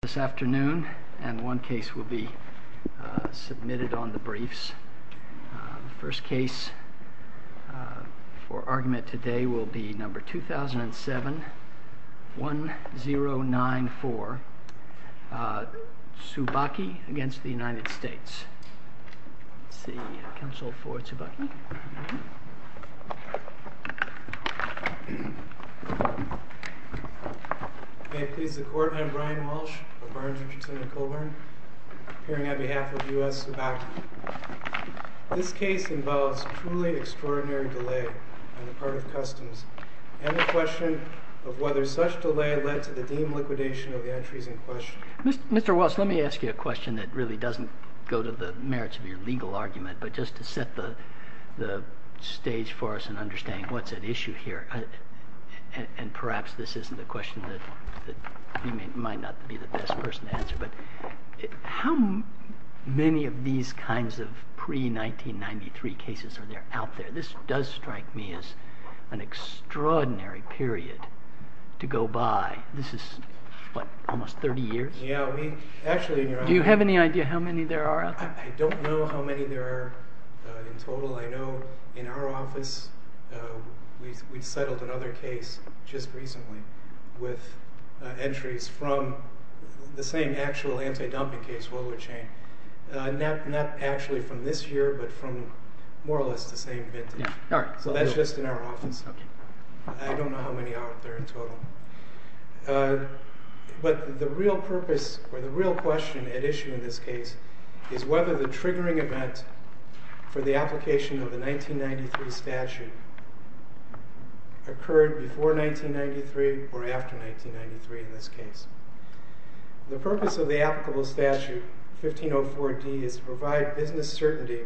This afternoon, and one case will be submitted on the briefs. The first case for argument today will be number 2007-1094, Tsubaki v. United States. Let's see, counsel for Tsubaki. May it please the Court, I am Brian Walsh of Barnes & Chittenden Colburn, appearing on behalf of U.S. Tsubaki. This case involves truly extraordinary delay on the part of customs, and the question of whether such delay led to the deemed liquidation of the entries in question. Mr. Walsh, let me ask you a question that really doesn't go to the merits of your legal argument, but just to set the stage for us in understanding what's at issue here. And perhaps this isn't a question that you might not be the best person to answer, but how many of these kinds of pre-1993 cases are there out there? This does strike me as an extraordinary period to go by. This is, what, almost 30 years? Do you have any idea how many there are out there? I don't know how many there are in total. I don't know how many there are in total. I know in our office we settled another case just recently with entries from the same actual anti-dumping case, Whaler Chain. Not actually from this year, but from more or less the same vintage. So that's just in our office. I don't know how many are out there in total. But the real purpose or the real question at issue in this case is whether the triggering event for the application of the 1993 statute occurred before 1993 or after 1993 in this case. The purpose of the applicable statute, 1504D, is to provide business certainty.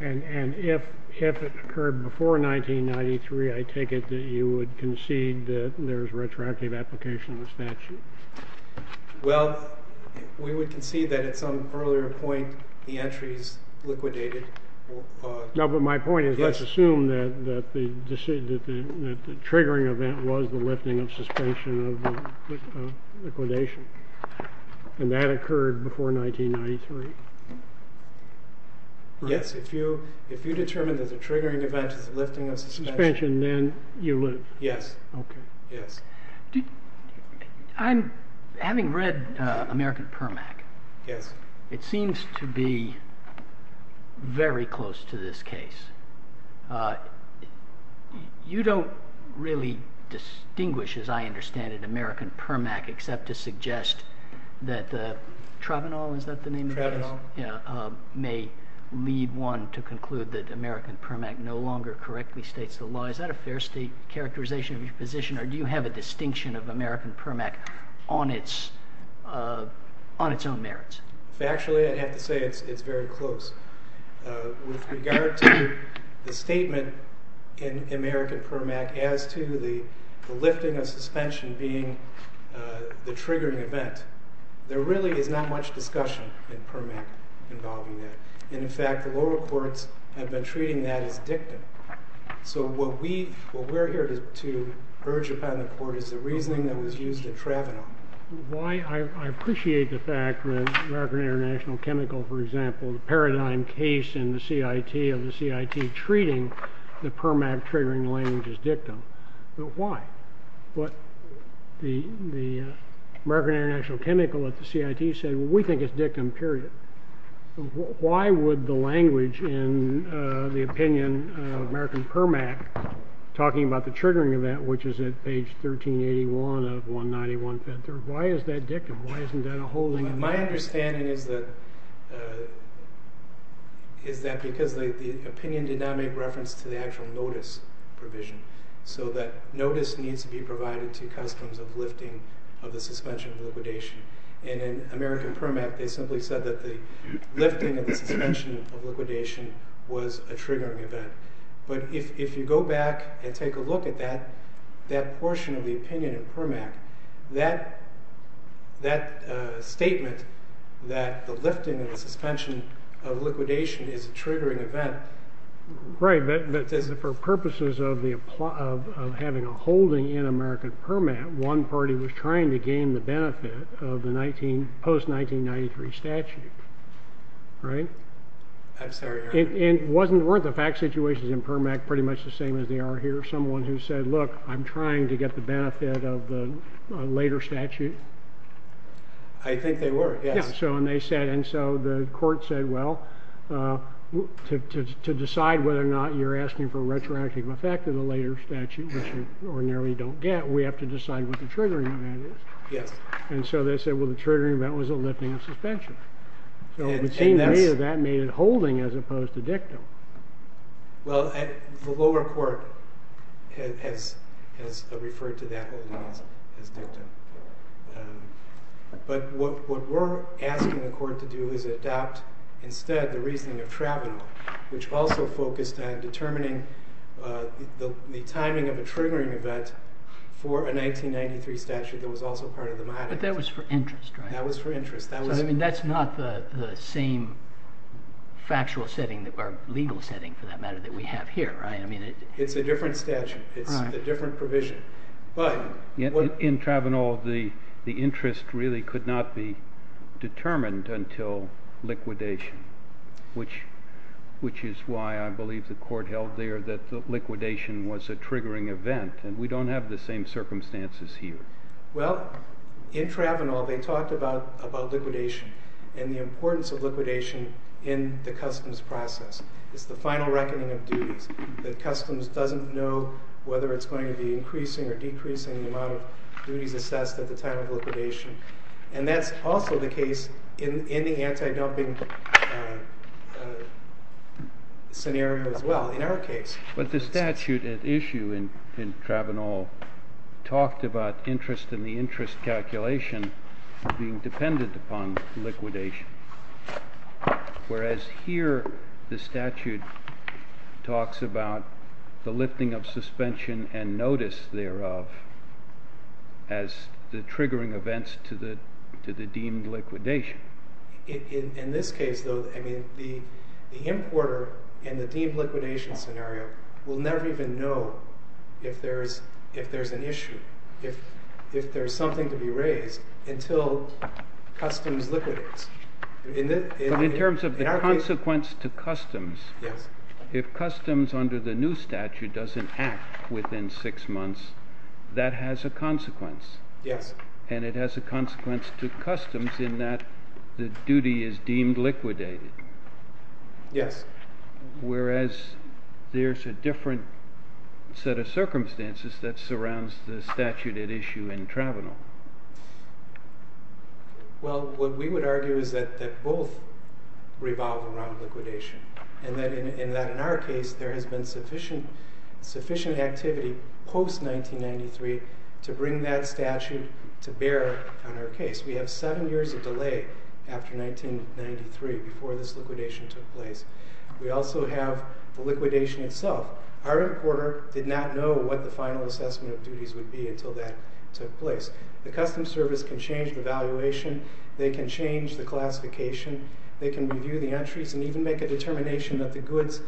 And if it occurred before 1993, I take it that you would concede that there is retroactive application of the statute. Well, we would concede that at some earlier point the entries liquidated. No, but my point is let's assume that the triggering event was the lifting of suspension of liquidation. And that occurred before 1993. Yes, if you determine that the triggering event is the lifting of suspension, then you live. Yes. Having read American Permac, it seems to be very close to this case. You don't really distinguish, as I understand it, American Permac, except to suggest that Travenol may lead one to conclude that American Permac no longer correctly states the law. Is that a fair state characterization of your position, or do you have a distinction of American Permac on its own merits? Factually, I have to say it's very close. With regard to the statement in American Permac as to the lifting of suspension being the triggering event, there really is not much discussion in Permac involving that. And in fact, the lower courts have been treating that as dictum. So what we're here to urge upon the court is the reasoning that was used in Travenol. I appreciate the fact that American International Chemical, for example, the paradigm case in the CIT of the CIT treating the Permac triggering language as dictum. But why? The American International Chemical at the CIT said, well, we think it's dictum, period. Why would the language in the opinion of American Permac, talking about the triggering event, which is at page 1381 of 191-53, why is that dictum? Why isn't that a holding? My understanding is that because the opinion did not make reference to the actual notice provision. So that notice needs to be provided to customs of lifting of the suspension of liquidation. And in American Permac, they simply said that the lifting of the suspension of liquidation was a triggering event. But if you go back and take a look at that portion of the opinion in Permac, that statement that the lifting of the suspension of liquidation is a triggering event. Right, but for purposes of having a holding in American Permac, one party was trying to gain the benefit of the post-1993 statute, right? I'm sorry. And weren't the fact situations in Permac pretty much the same as they are here? Someone who said, look, I'm trying to get the benefit of a later statute? I think they were, yes. And so the court said, well, to decide whether or not you're asking for a retroactive effect of the later statute, which you ordinarily don't get, we have to decide what the triggering event is. And so they said, well, the triggering event was the lifting of suspension. So it would seem to me that that made it holding as opposed to dictum. Well, the lower court has referred to that holding as dictum. But what we're asking the court to do is adopt, instead, the reasoning of Travana, which also focused on determining the timing of a triggering event for a 1993 statute that was also part of the modicum. But that was for interest, right? That was for interest. I mean, that's not the same factual setting or legal setting, for that matter, that we have here, right? It's a different statute. It's a different provision. In Travana, the interest really could not be determined until liquidation, which is why I believe the court held there that liquidation was a triggering event. And we don't have the same circumstances here. Well, in Travana, they talked about liquidation and the importance of liquidation in the customs process. It's the final reckoning of duties. The customs doesn't know whether it's going to be increasing or decreasing the amount of duties assessed at the time of liquidation. And that's also the case in the anti-dumping scenario as well in our case. But the statute at issue in Travana talked about interest and the interest calculation being dependent upon liquidation. Whereas here, the statute talks about the lifting of suspension and notice thereof as the triggering events to the deemed liquidation. In this case, though, I mean, the importer in the deemed liquidation scenario will never even know if there's an issue, if there's something to be raised until customs liquidates. But in terms of the consequence to customs, if customs under the new statute doesn't act within six months, that has a consequence. Yes. And it has a consequence to customs in that the duty is deemed liquidated. Yes. Whereas there's a different set of circumstances that surrounds the statute at issue in Travana. Well, what we would argue is that both revolve around liquidation. And that in our case, there has been sufficient activity post-1993 to bring that statute to bear on our case. We have seven years of delay after 1993 before this liquidation took place. We also have the liquidation itself. Our importer did not know what the final assessment of duties would be until that took place. The customs service can change the valuation. They can change the classification. They can review the entries and even make a determination that the goods,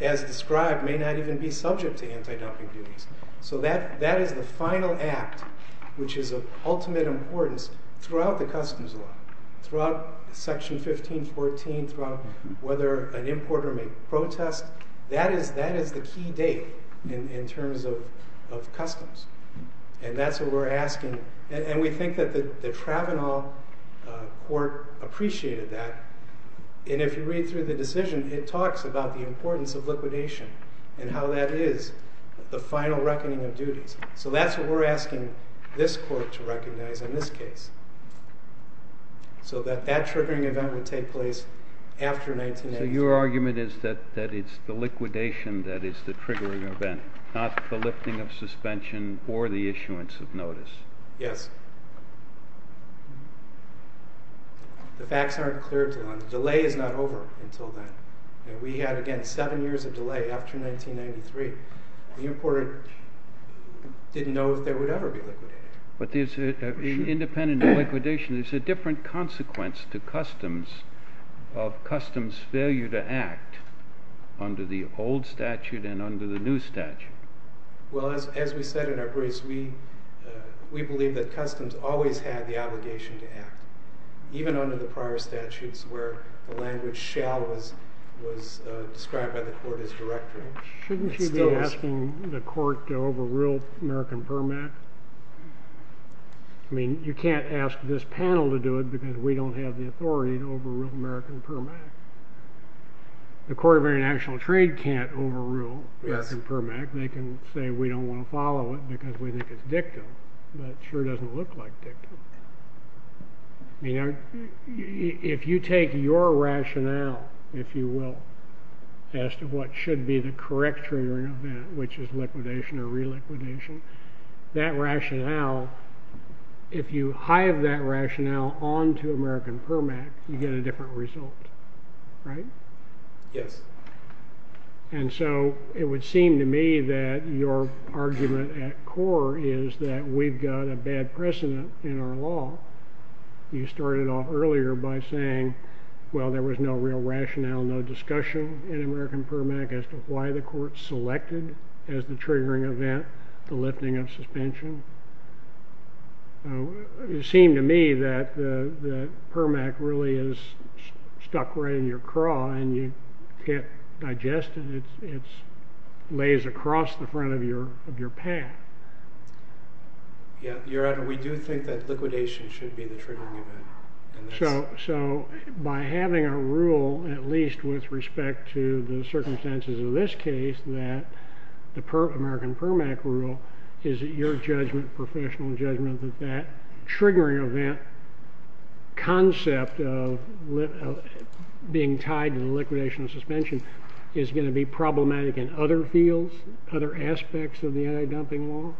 as described, may not even be subject to anti-dumping duties. So that is the final act, which is of ultimate importance throughout the customs law, throughout Section 1514, throughout whether an importer may protest. That is the key date in terms of customs. And that's what we're asking. And we think that the Travana court appreciated that. And if you read through the decision, it talks about the importance of liquidation and how that is the final reckoning of duties. So that's what we're asking this court to recognize in this case, so that that triggering event would take place after 1983. So your argument is that it's the liquidation that is the triggering event, not the lifting of suspension or the issuance of notice. Yes. The facts aren't clear to them. The delay is not over until then. And we had, again, seven years of delay after 1993. The importer didn't know if there would ever be liquidation. But there's an independent liquidation. There's a different consequence to customs of customs failure to act under the old statute and under the new statute. Well, as we said in our briefs, we believe that customs always had the obligation to act, even under the prior statutes where the language shall was described by the court as directory. Shouldn't you be asking the court to overrule American Permac? I mean, you can't ask this panel to do it because we don't have the authority to overrule American Permac. The Court of International Trade can't overrule American Permac. They can say we don't want to follow it because we think it's dictum. But it sure doesn't look like dictum. I mean, if you take your rationale, if you will, as to what should be the correct triggering of that, which is liquidation or reliquidation, that rationale, if you hive that rationale on to American Permac, you get a different result, right? Yes. And so it would seem to me that your argument at core is that we've got a bad precedent in our law. You started off earlier by saying, well, there was no real rationale, no discussion in American Permac as to why the court selected as the triggering event the lifting of suspension. It would seem to me that Permac really is stuck right in your craw and you can't digest it. It lays across the front of your path. Your Honor, we do think that liquidation should be the triggering event. So by having a rule, at least with respect to the circumstances of this case, that the American Permac rule is your judgment, professional judgment, that that triggering event concept of being tied to the liquidation of suspension is going to be problematic in other fields, other aspects of the anti-dumping law?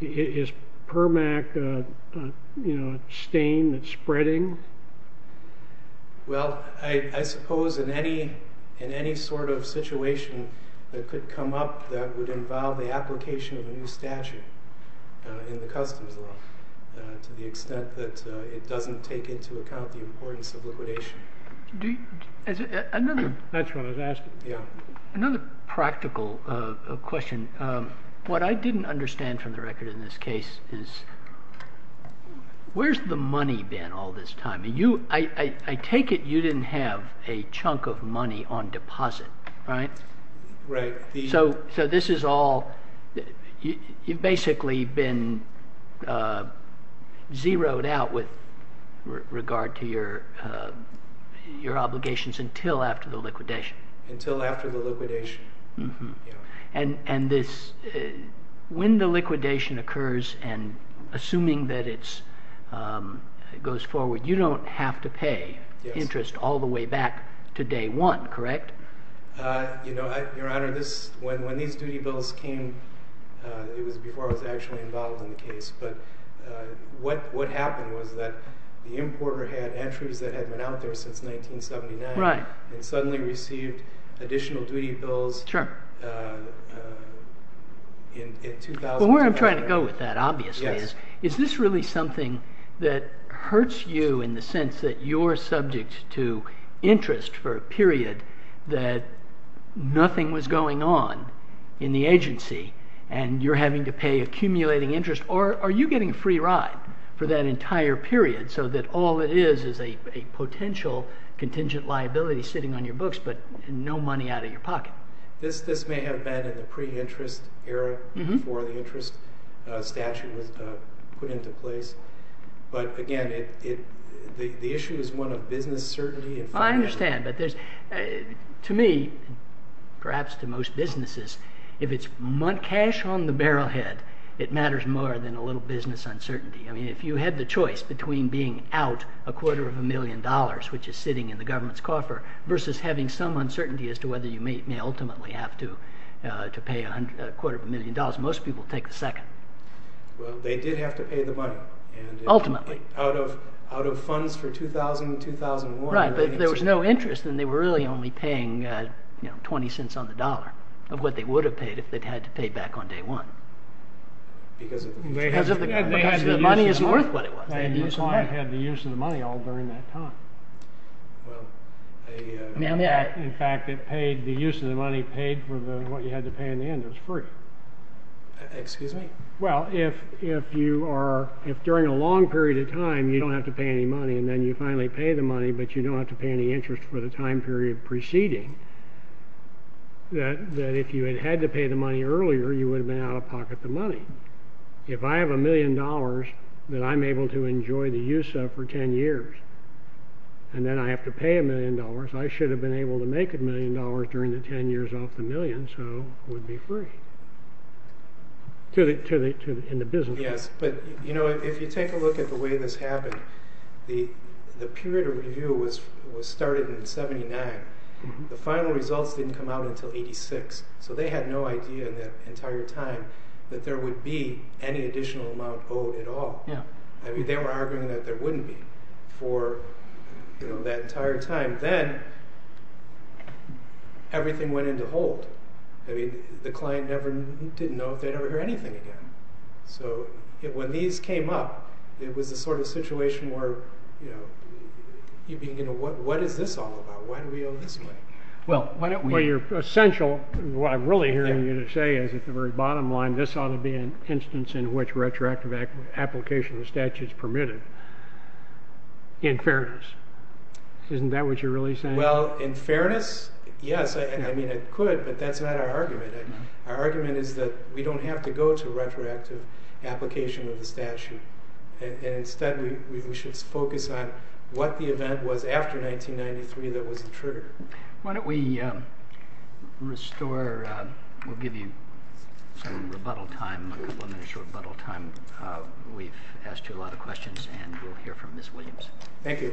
Is Permac a stain that's spreading? Well, I suppose in any sort of situation that could come up that would involve the application of a new statute in the customs law to the extent that it doesn't take into account the importance of liquidation. That's what I was asking. Another practical question. What I didn't understand from the record in this case is where's the money been all this time? I take it you didn't have a chunk of money on deposit, right? So this is all, you've basically been zeroed out with regard to your obligations until after the liquidation. Until after the liquidation. And when the liquidation occurs and assuming that it goes forward, you don't have to pay interest all the way back to day one, correct? Your Honor, when these duty bills came, it was before I was actually involved in the case, but what happened was that the importer had entries that had been out there since 1979 and suddenly received additional duty bills in 2007. So where I'm trying to go with that, obviously, is this really something that hurts you in the sense that you're subject to interest for a period that nothing was going on in the agency and you're having to pay accumulating interest? Or are you getting a free ride for that entire period so that all it is is a potential contingent liability sitting on your books but no money out of your pocket? This may have been in the pre-interest era before the interest statute was put into place, but again, the issue is one of business certainty. I understand, but to me, perhaps to most businesses, if it's cash on the barrel head, it matters more than a little business uncertainty. If you had the choice between being out a quarter of a million dollars, which is sitting in the government's coffer, versus having some uncertainty as to whether you may ultimately have to pay a quarter of a million dollars, most people take the second. Well, they did have to pay the money. Ultimately. Out of funds for 2000, 2001. Right, but if there was no interest, then they were really only paying 20 cents on the dollar of what they would have paid if they'd had to pay back on day one. Because the money isn't worth what it was. And your client had the use of the money all during that time. In fact, the use of the money paid for what you had to pay in the end. It was free. Excuse me? Well, if during a long period of time, you don't have to pay any money, and then you finally pay the money, but you don't have to pay any interest for the time period preceding, that if you had had to pay the money earlier, you would have been out of pocket the money. If I have a million dollars that I'm able to enjoy the use of for 10 years, and then I have to pay a million dollars, I should have been able to make a million dollars during the 10 years off the million, so it would be free. In the business. Yes, but if you take a look at the way this happened, the period of review was started in 79. The final results didn't come out until 86, so they had no idea in that entire time that there would be any additional amount owed at all. I mean, they were arguing that there wouldn't be for that entire time. And then, everything went into hold. I mean, the client didn't know if they'd ever hear anything again. So, when these came up, it was the sort of situation where, you know, what is this all about? Why do we owe this money? Well, what I'm really hearing you say is at the very bottom line, this ought to be an instance in which retroactive application of the statute is permitted. In fairness. Isn't that what you're really saying? Well, in fairness, yes, I mean, it could, but that's not our argument. Our argument is that we don't have to go to retroactive application of the statute. Instead, we should focus on what the event was after 1993 that was the trigger. Why don't we restore, we'll give you some rebuttal time, a couple minutes of rebuttal time. We've asked you a lot of questions, and we'll hear from Ms. Williams. Thank you.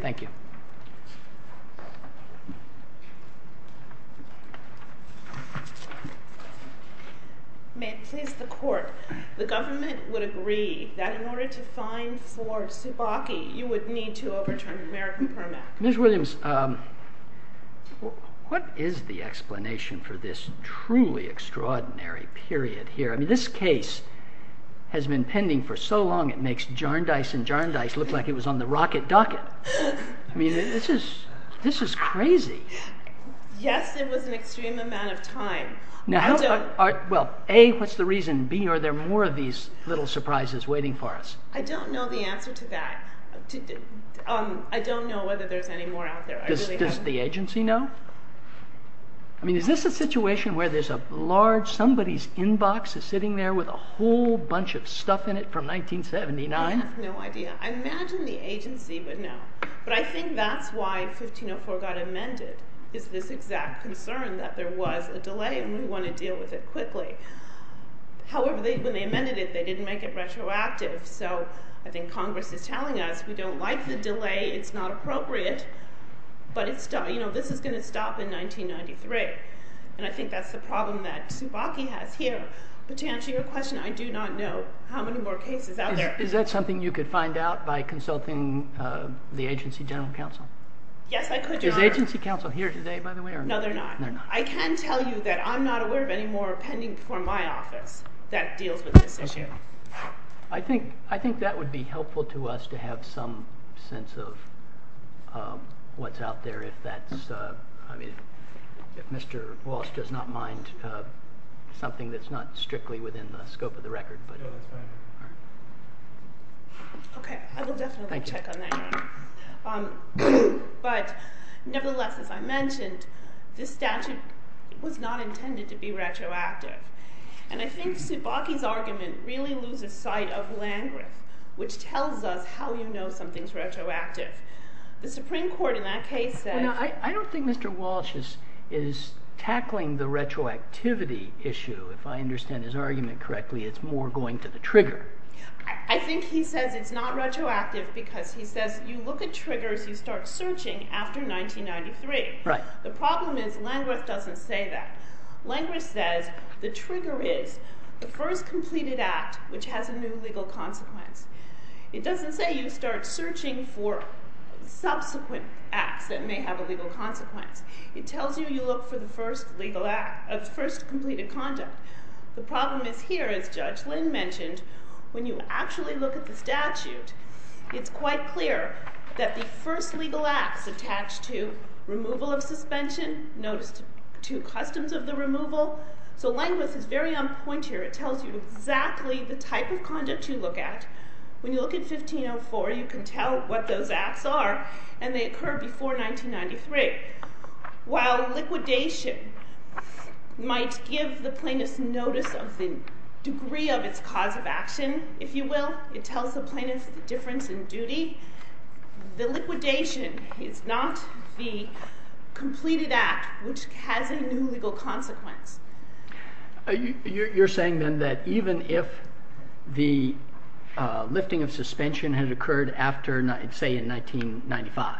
May it please the court, the government would agree that in order to fine for Tsubaki, you would need to overturn the American Permit. Ms. Williams, what is the explanation for this truly extraordinary period here? I mean, this case has been pending for so long, it makes Jarndyce and Jarndyce look like it was on the rocket docket. I mean, this is crazy. Yes, it was an extreme amount of time. Well, A, what's the reason? B, are there more of these little surprises waiting for us? I don't know the answer to that. I don't know whether there's any more out there. Does the agency know? I mean, is this a situation where there's a large, somebody's inbox is sitting there with a whole bunch of stuff in it from 1979? I have no idea. I imagine the agency would know. But I think that's why 1504 got amended, is this exact concern that there was a delay and we want to deal with it quickly. However, when they amended it, they didn't make it retroactive, so I think Congress is telling us we don't like the delay, it's not appropriate. But this is going to stop in 1993, and I think that's the problem that Tsubaki has here. But to answer your question, I do not know how many more cases out there. Is that something you could find out by consulting the agency general counsel? Yes, I could, Your Honor. Is agency counsel here today, by the way? No, they're not. I can tell you that I'm not aware of any more pending before my office that deals with this issue. I think that would be helpful to us to have some sense of what's out there if that's, I mean, if Mr. Wallace does not mind, something that's not strictly within the scope of the record. No, that's fine. Okay, I will definitely check on that, Your Honor. But nevertheless, as I mentioned, this statute was not intended to be retroactive. And I think Tsubaki's argument really loses sight of Langreth, which tells us how you know something's retroactive. The Supreme Court in that case said— I don't think Mr. Walsh is tackling the retroactivity issue. If I understand his argument correctly, it's more going to the trigger. I think he says it's not retroactive because he says you look at triggers, you start searching after 1993. Right. The problem is Langreth doesn't say that. Langreth says the trigger is the first completed act which has a new legal consequence. It doesn't say you start searching for subsequent acts that may have a legal consequence. It tells you you look for the first completed conduct. The problem is here, as Judge Lynn mentioned, when you actually look at the statute, it's quite clear that the first legal acts attached to removal of suspension, notice two customs of the removal. So Langreth is very on point here. It tells you exactly the type of conduct you look at. When you look at 1504, you can tell what those acts are, and they occur before 1993. While liquidation might give the plaintiff's notice of the degree of its cause of action, if you will, it tells the plaintiff the difference in duty, the liquidation is not the completed act which has a new legal consequence. You're saying then that even if the lifting of suspension had occurred after, say, in 1995,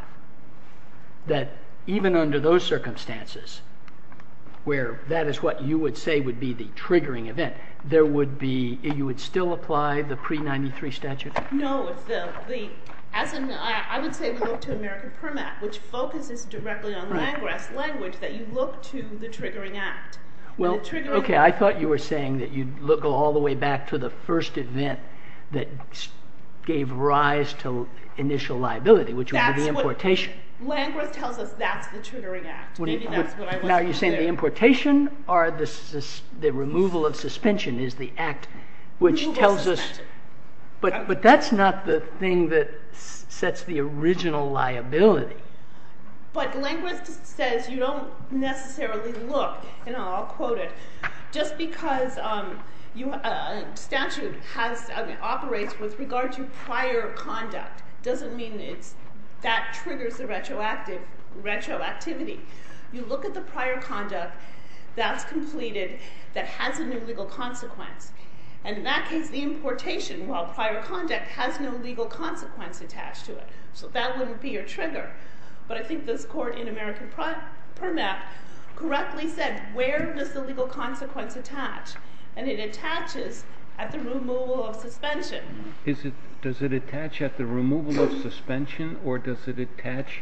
that even under those circumstances where that is what you would say would be the triggering event, there would be, you would still apply the pre-93 statute? No. I would say we look to American Permit Act, which focuses directly on Langreth's language, that you look to the triggering act. Okay, I thought you were saying that you'd go all the way back to the first event that gave rise to initial liability, which would be the importation. Langreth tells us that's the triggering act. Now, are you saying the importation or the removal of suspension is the act which tells us... Removal of suspension. But that's not the thing that sets the original liability. But Langreth says you don't necessarily look, and I'll quote it, just because a statute operates with regard to prior conduct doesn't mean that triggers the retroactivity. You look at the prior conduct that's completed that has a new legal consequence, and in that case the importation while prior conduct has no legal consequence attached to it, so that wouldn't be your trigger. But I think this court in American Permit Act correctly said where does the legal consequence attach, and it attaches at the removal of suspension. Does it attach at the removal of suspension or does it attach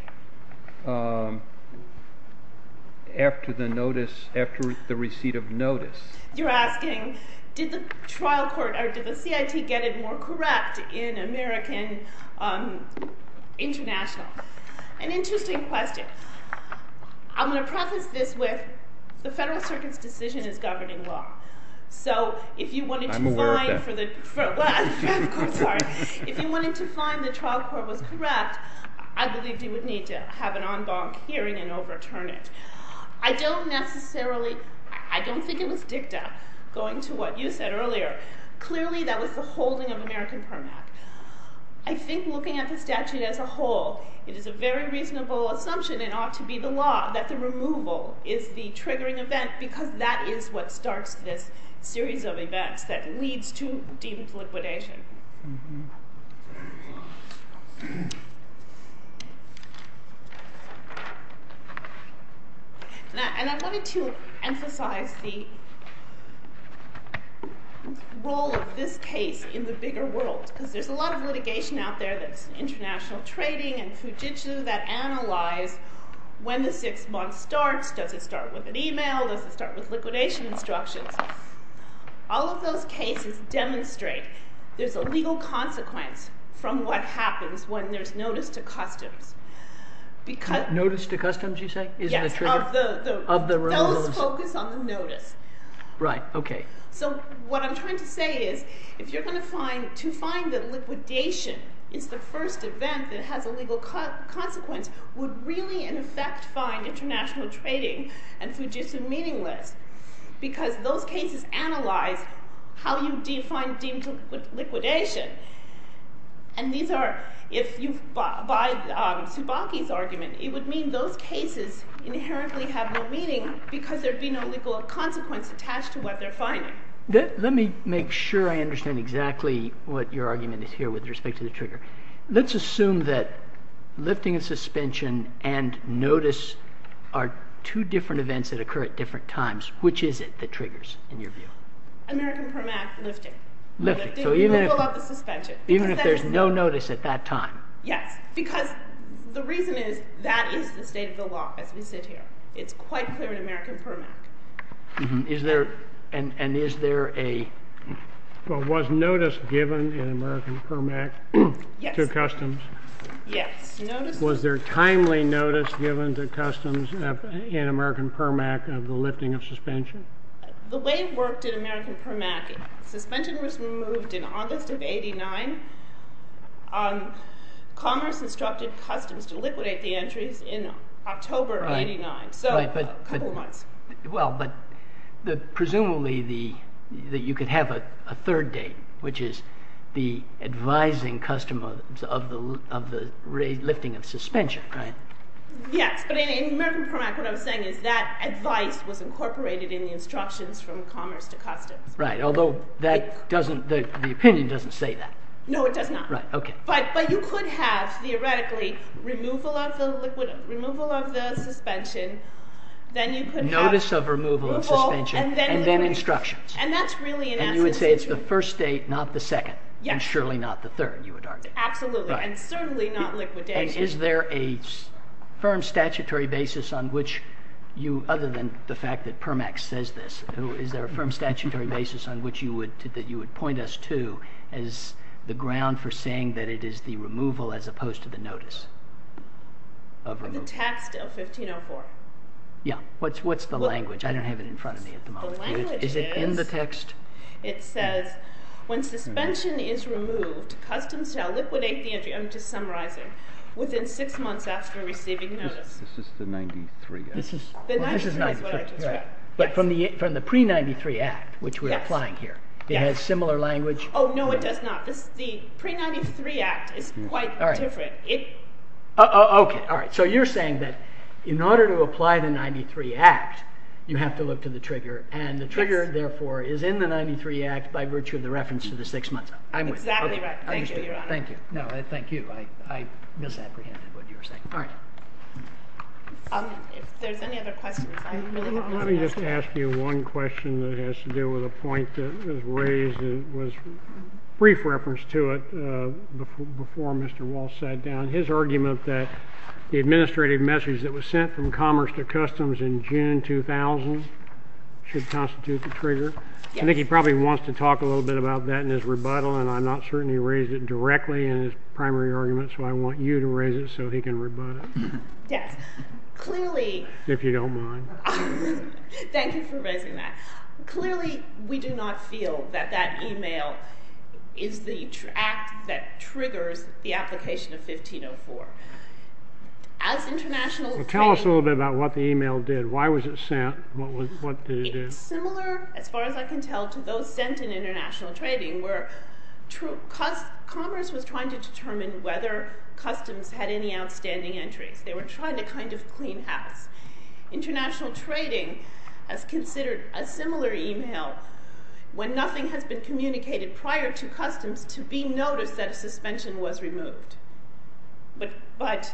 after the notice, after the receipt of notice? You're asking did the trial court or did the CIT get it more correct in American International? An interesting question. I'm going to preface this with the Federal Circuit's decision is governing law, so if you wanted to find the trial court was correct, I believe you would need to have an en banc hearing and overturn it. I don't necessarily, I don't think it was dicta going to what you said earlier. Clearly that was the holding of American Permit Act. I think looking at the statute as a whole it is a very reasonable assumption it ought to be the law that the removal is the triggering event because that is what starts this series of events that leads to deliquidation. And I wanted to emphasize the role of this case in the bigger world because there's a lot of litigation out there that's international trading and fugitives that analyze when the six months starts. Does it start with an email? Does it start with liquidation instructions? All of those cases demonstrate there's a legal consequence from what happens when there's notice to customs. Notice to customs you say? Yes, those focus on the notice. Right, okay. So what I'm trying to say is if you're going to find, to find that liquidation is the first event that has a legal consequence would really in effect find international trading and fugitives meaningless because those cases analyze how you define deemed liquidation and these are, if you abide Tsubaki's argument, it would mean those cases inherently have no meaning because there'd be no legal consequence attached to what they're finding. Let me make sure I understand exactly what your argument is here with respect to the trigger. Let's assume that lifting a suspension and notice are two different events that occur at different times. Which is it that triggers in your view? American Permit Act lifting. Even if there's no notice at that time? Yes, because the reason is that is the state of the law as we sit here. It's quite clear in American Permit Act. Is there, and is there a... Was notice given in American Permit Act to customs? Yes. Was there timely notice given to customs in American Permit Act of the lifting of suspension? The way it worked in American Permit Act, suspension was removed in August of 89. Commerce instructed customs to liquidate the entries in October of 89. So a couple of months. Well, but presumably you could have a third date, which is the advising customs of the lifting of suspension, right? Yes, but in American Permit Act what I'm saying is that advice was incorporated in the instructions from commerce to customs. Right, although the opinion doesn't say that. No, it does not. Right, okay. But you could have theoretically removal of the suspension, then you could have... Notice of removal of suspension, and then instructions. And that's really... And you would say it's the first date, not the second, and surely not the third, you would argue. Absolutely, and certainly not liquidated. And is there a firm statutory basis on which you, other than the fact that PERMAX says this, is there a firm statutory basis on which you would point us to as the ground for saying that it is the removal as opposed to the notice of removal? The text of 1504. Yeah, what's the language? I don't have it in front of me at the moment. The language is... Is it in the text? It says, when suspension is removed, customs shall liquidate the entry, I'm just summarizing, within six months after receiving notice. This is the 93 Act. The 93 is what I just read. But from the pre-93 Act, which we're applying here, it has similar language? Oh, no, it does not. The pre-93 Act is quite different. Okay, all right. So you're saying that in order to apply the 93 Act, you have to look to the trigger, and the trigger, therefore, is in the 93 Act by virtue of the reference to the six months. Exactly right. Thank you, Your Honor. Thank you. No, thank you. I misapprehended what you were saying. All right. If there's any other questions... Let me just ask you one question that has to do with a point that was raised and was a brief reference to it before Mr. Walsh sat down. His argument that the administrative message that was sent from Commerce to Customs in June 2000 should constitute the trigger. I think he probably wants to talk a little bit about that in his rebuttal, and I'm not certain he raised it directly in his primary argument, so I want you to raise it so he can rebut it. Yes. Clearly... If you don't mind. Thank you for raising that. Clearly, we do not feel that that email is the act that triggers the application of 1504. As international... Well, tell us a little bit about what the email did. Why was it sent? What did it do? It was similar, as far as I can tell, to those sent in international trading, where Commerce was trying to determine whether Customs had any outstanding entries. They were trying to kind of clean house. International trading has considered a similar email when nothing has been communicated prior to Customs to be noticed that a suspension was removed. But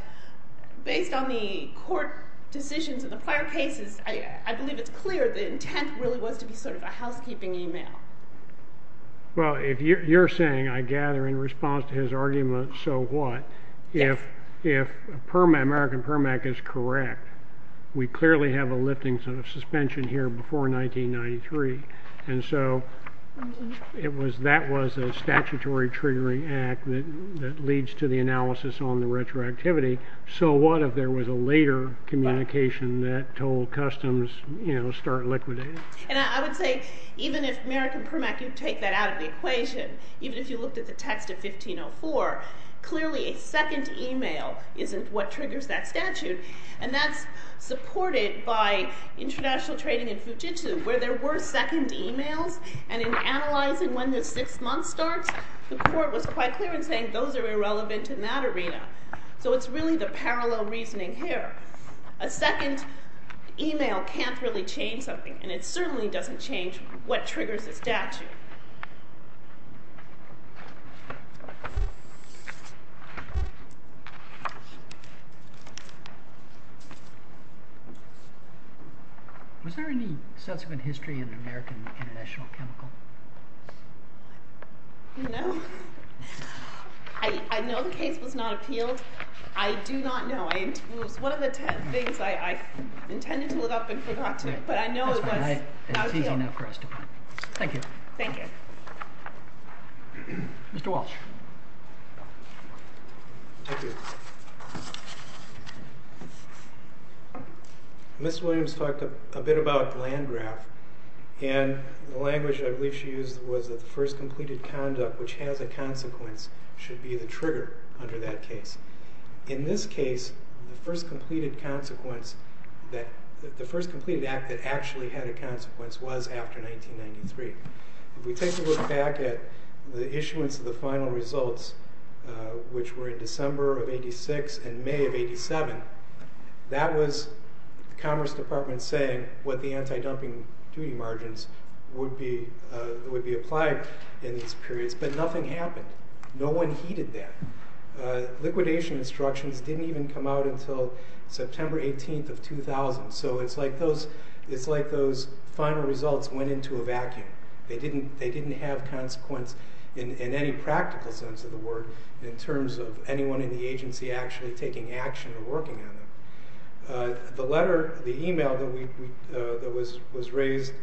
based on the court decisions in the prior cases, I believe it's clear the intent really was to be sort of a housekeeping email. Well, if you're saying, I gather, in response to his argument, so what? If American Permit Act is correct, we clearly have a lifting suspension here before 1993, and so that was a statutory triggering act that leads to the analysis on the retroactivity. So what if there was a later communication that told Customs, you know, start liquidating? And I would say even if American Permit Act could take that out of the equation, even if you looked at the text of 1504, clearly a second email isn't what triggers that statute, and that's supported by international trading in Fujitsu, where there were second emails, and in analyzing when the sixth month starts, the court was quite clear in saying those are irrelevant in that arena. So it's really the parallel reasoning here. A second email can't really change something, and it certainly doesn't change what triggers the statute. Was there any subsequent history in American international chemical? No. I know the case was not appealed. I do not know. It was one of the things I intended to look up and forgot to, but I know it was not appealed. Thank you. Thank you. Mr. Walsh. Thank you. Ms. Williams talked a bit about Landgraf, and the language I believe she used was that the first completed conduct which has a consequence should be the trigger under that case. In this case, the first completed act that actually had a consequence was after 1993. If we take a look back at the issuance of the final results, which were in December of 86 and May of 87, that was the Commerce Department saying what the anti-dumping duty margins would be applied in these periods, but nothing happened. No one heeded that. Liquidation instructions didn't even come out until September 18th of 2000, so it's like those final results went into a vacuum. They didn't have consequence in any practical sense of the word in terms of anyone in the agency actually taking action or working on them. The letter, the e-mail that was raised—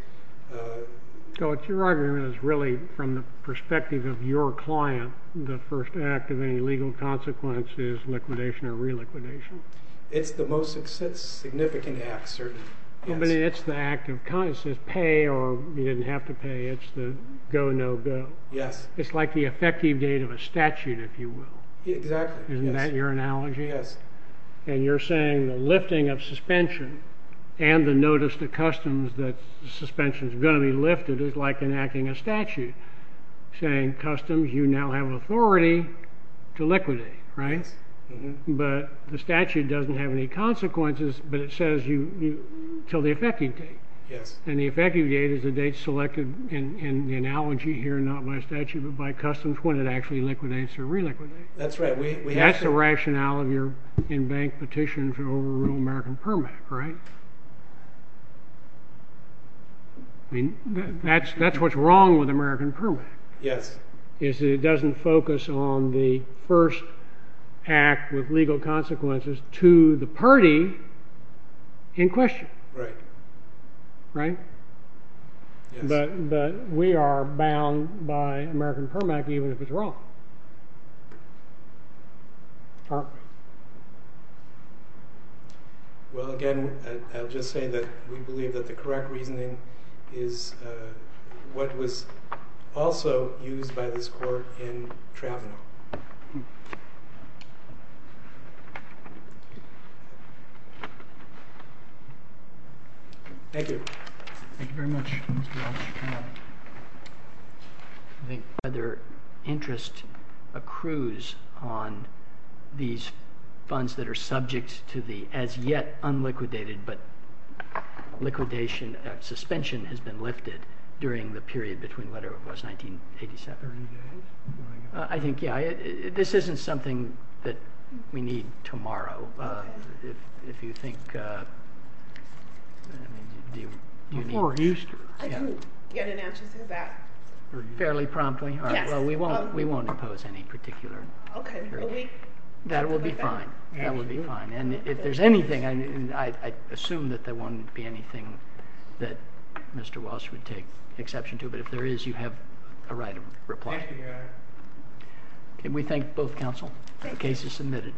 So it's your argument is really from the perspective of your client the first act of any legal consequence is liquidation or reliquidation. It's the most significant act, certainly. But it's the act of—it says pay or you didn't have to pay. It's the go, no-go. Yes. It's like the effective date of a statute, if you will. Exactly. Isn't that your analogy? Yes. And you're saying the lifting of suspension and the notice to customs that suspension is going to be lifted is like enacting a statute saying customs, you now have authority to liquidate, right? Yes. But the statute doesn't have any consequences, but it says until the effective date. Yes. And the effective date is the date selected in the analogy here, not by statute, but by customs when it actually liquidates or reliquidates. That's right. That's the rationale of your in-bank petition for overruled American Permit, right? That's what's wrong with American Permit. Yes. It doesn't focus on the first act with legal consequences to the party in question. Right. Right? Yes. But we are bound by American Permit even if it's wrong, aren't we? Well, again, I'll just say that we believe that the correct reasoning is what was also used by this court in Trevino. Thank you. Thank you very much, Mr. Walsh. I think whether interest accrues on these funds that are subject to the as yet unliquidated, but liquidation or suspension has been lifted during the period between whatever it was, 1987. 30 days? I think, yeah. This isn't something that we need tomorrow. If you think... Before Easter. I didn't get an answer to that. Fairly promptly? Yes. All right. Well, we won't impose any particular period. That will be fine. That will be fine. And if there's anything, I assume that there won't be anything that Mr. Walsh would take exception to, but if there is, you have a right of reply. Thank you, Your Honor. Can we thank both counsel? Thank you. The case is submitted.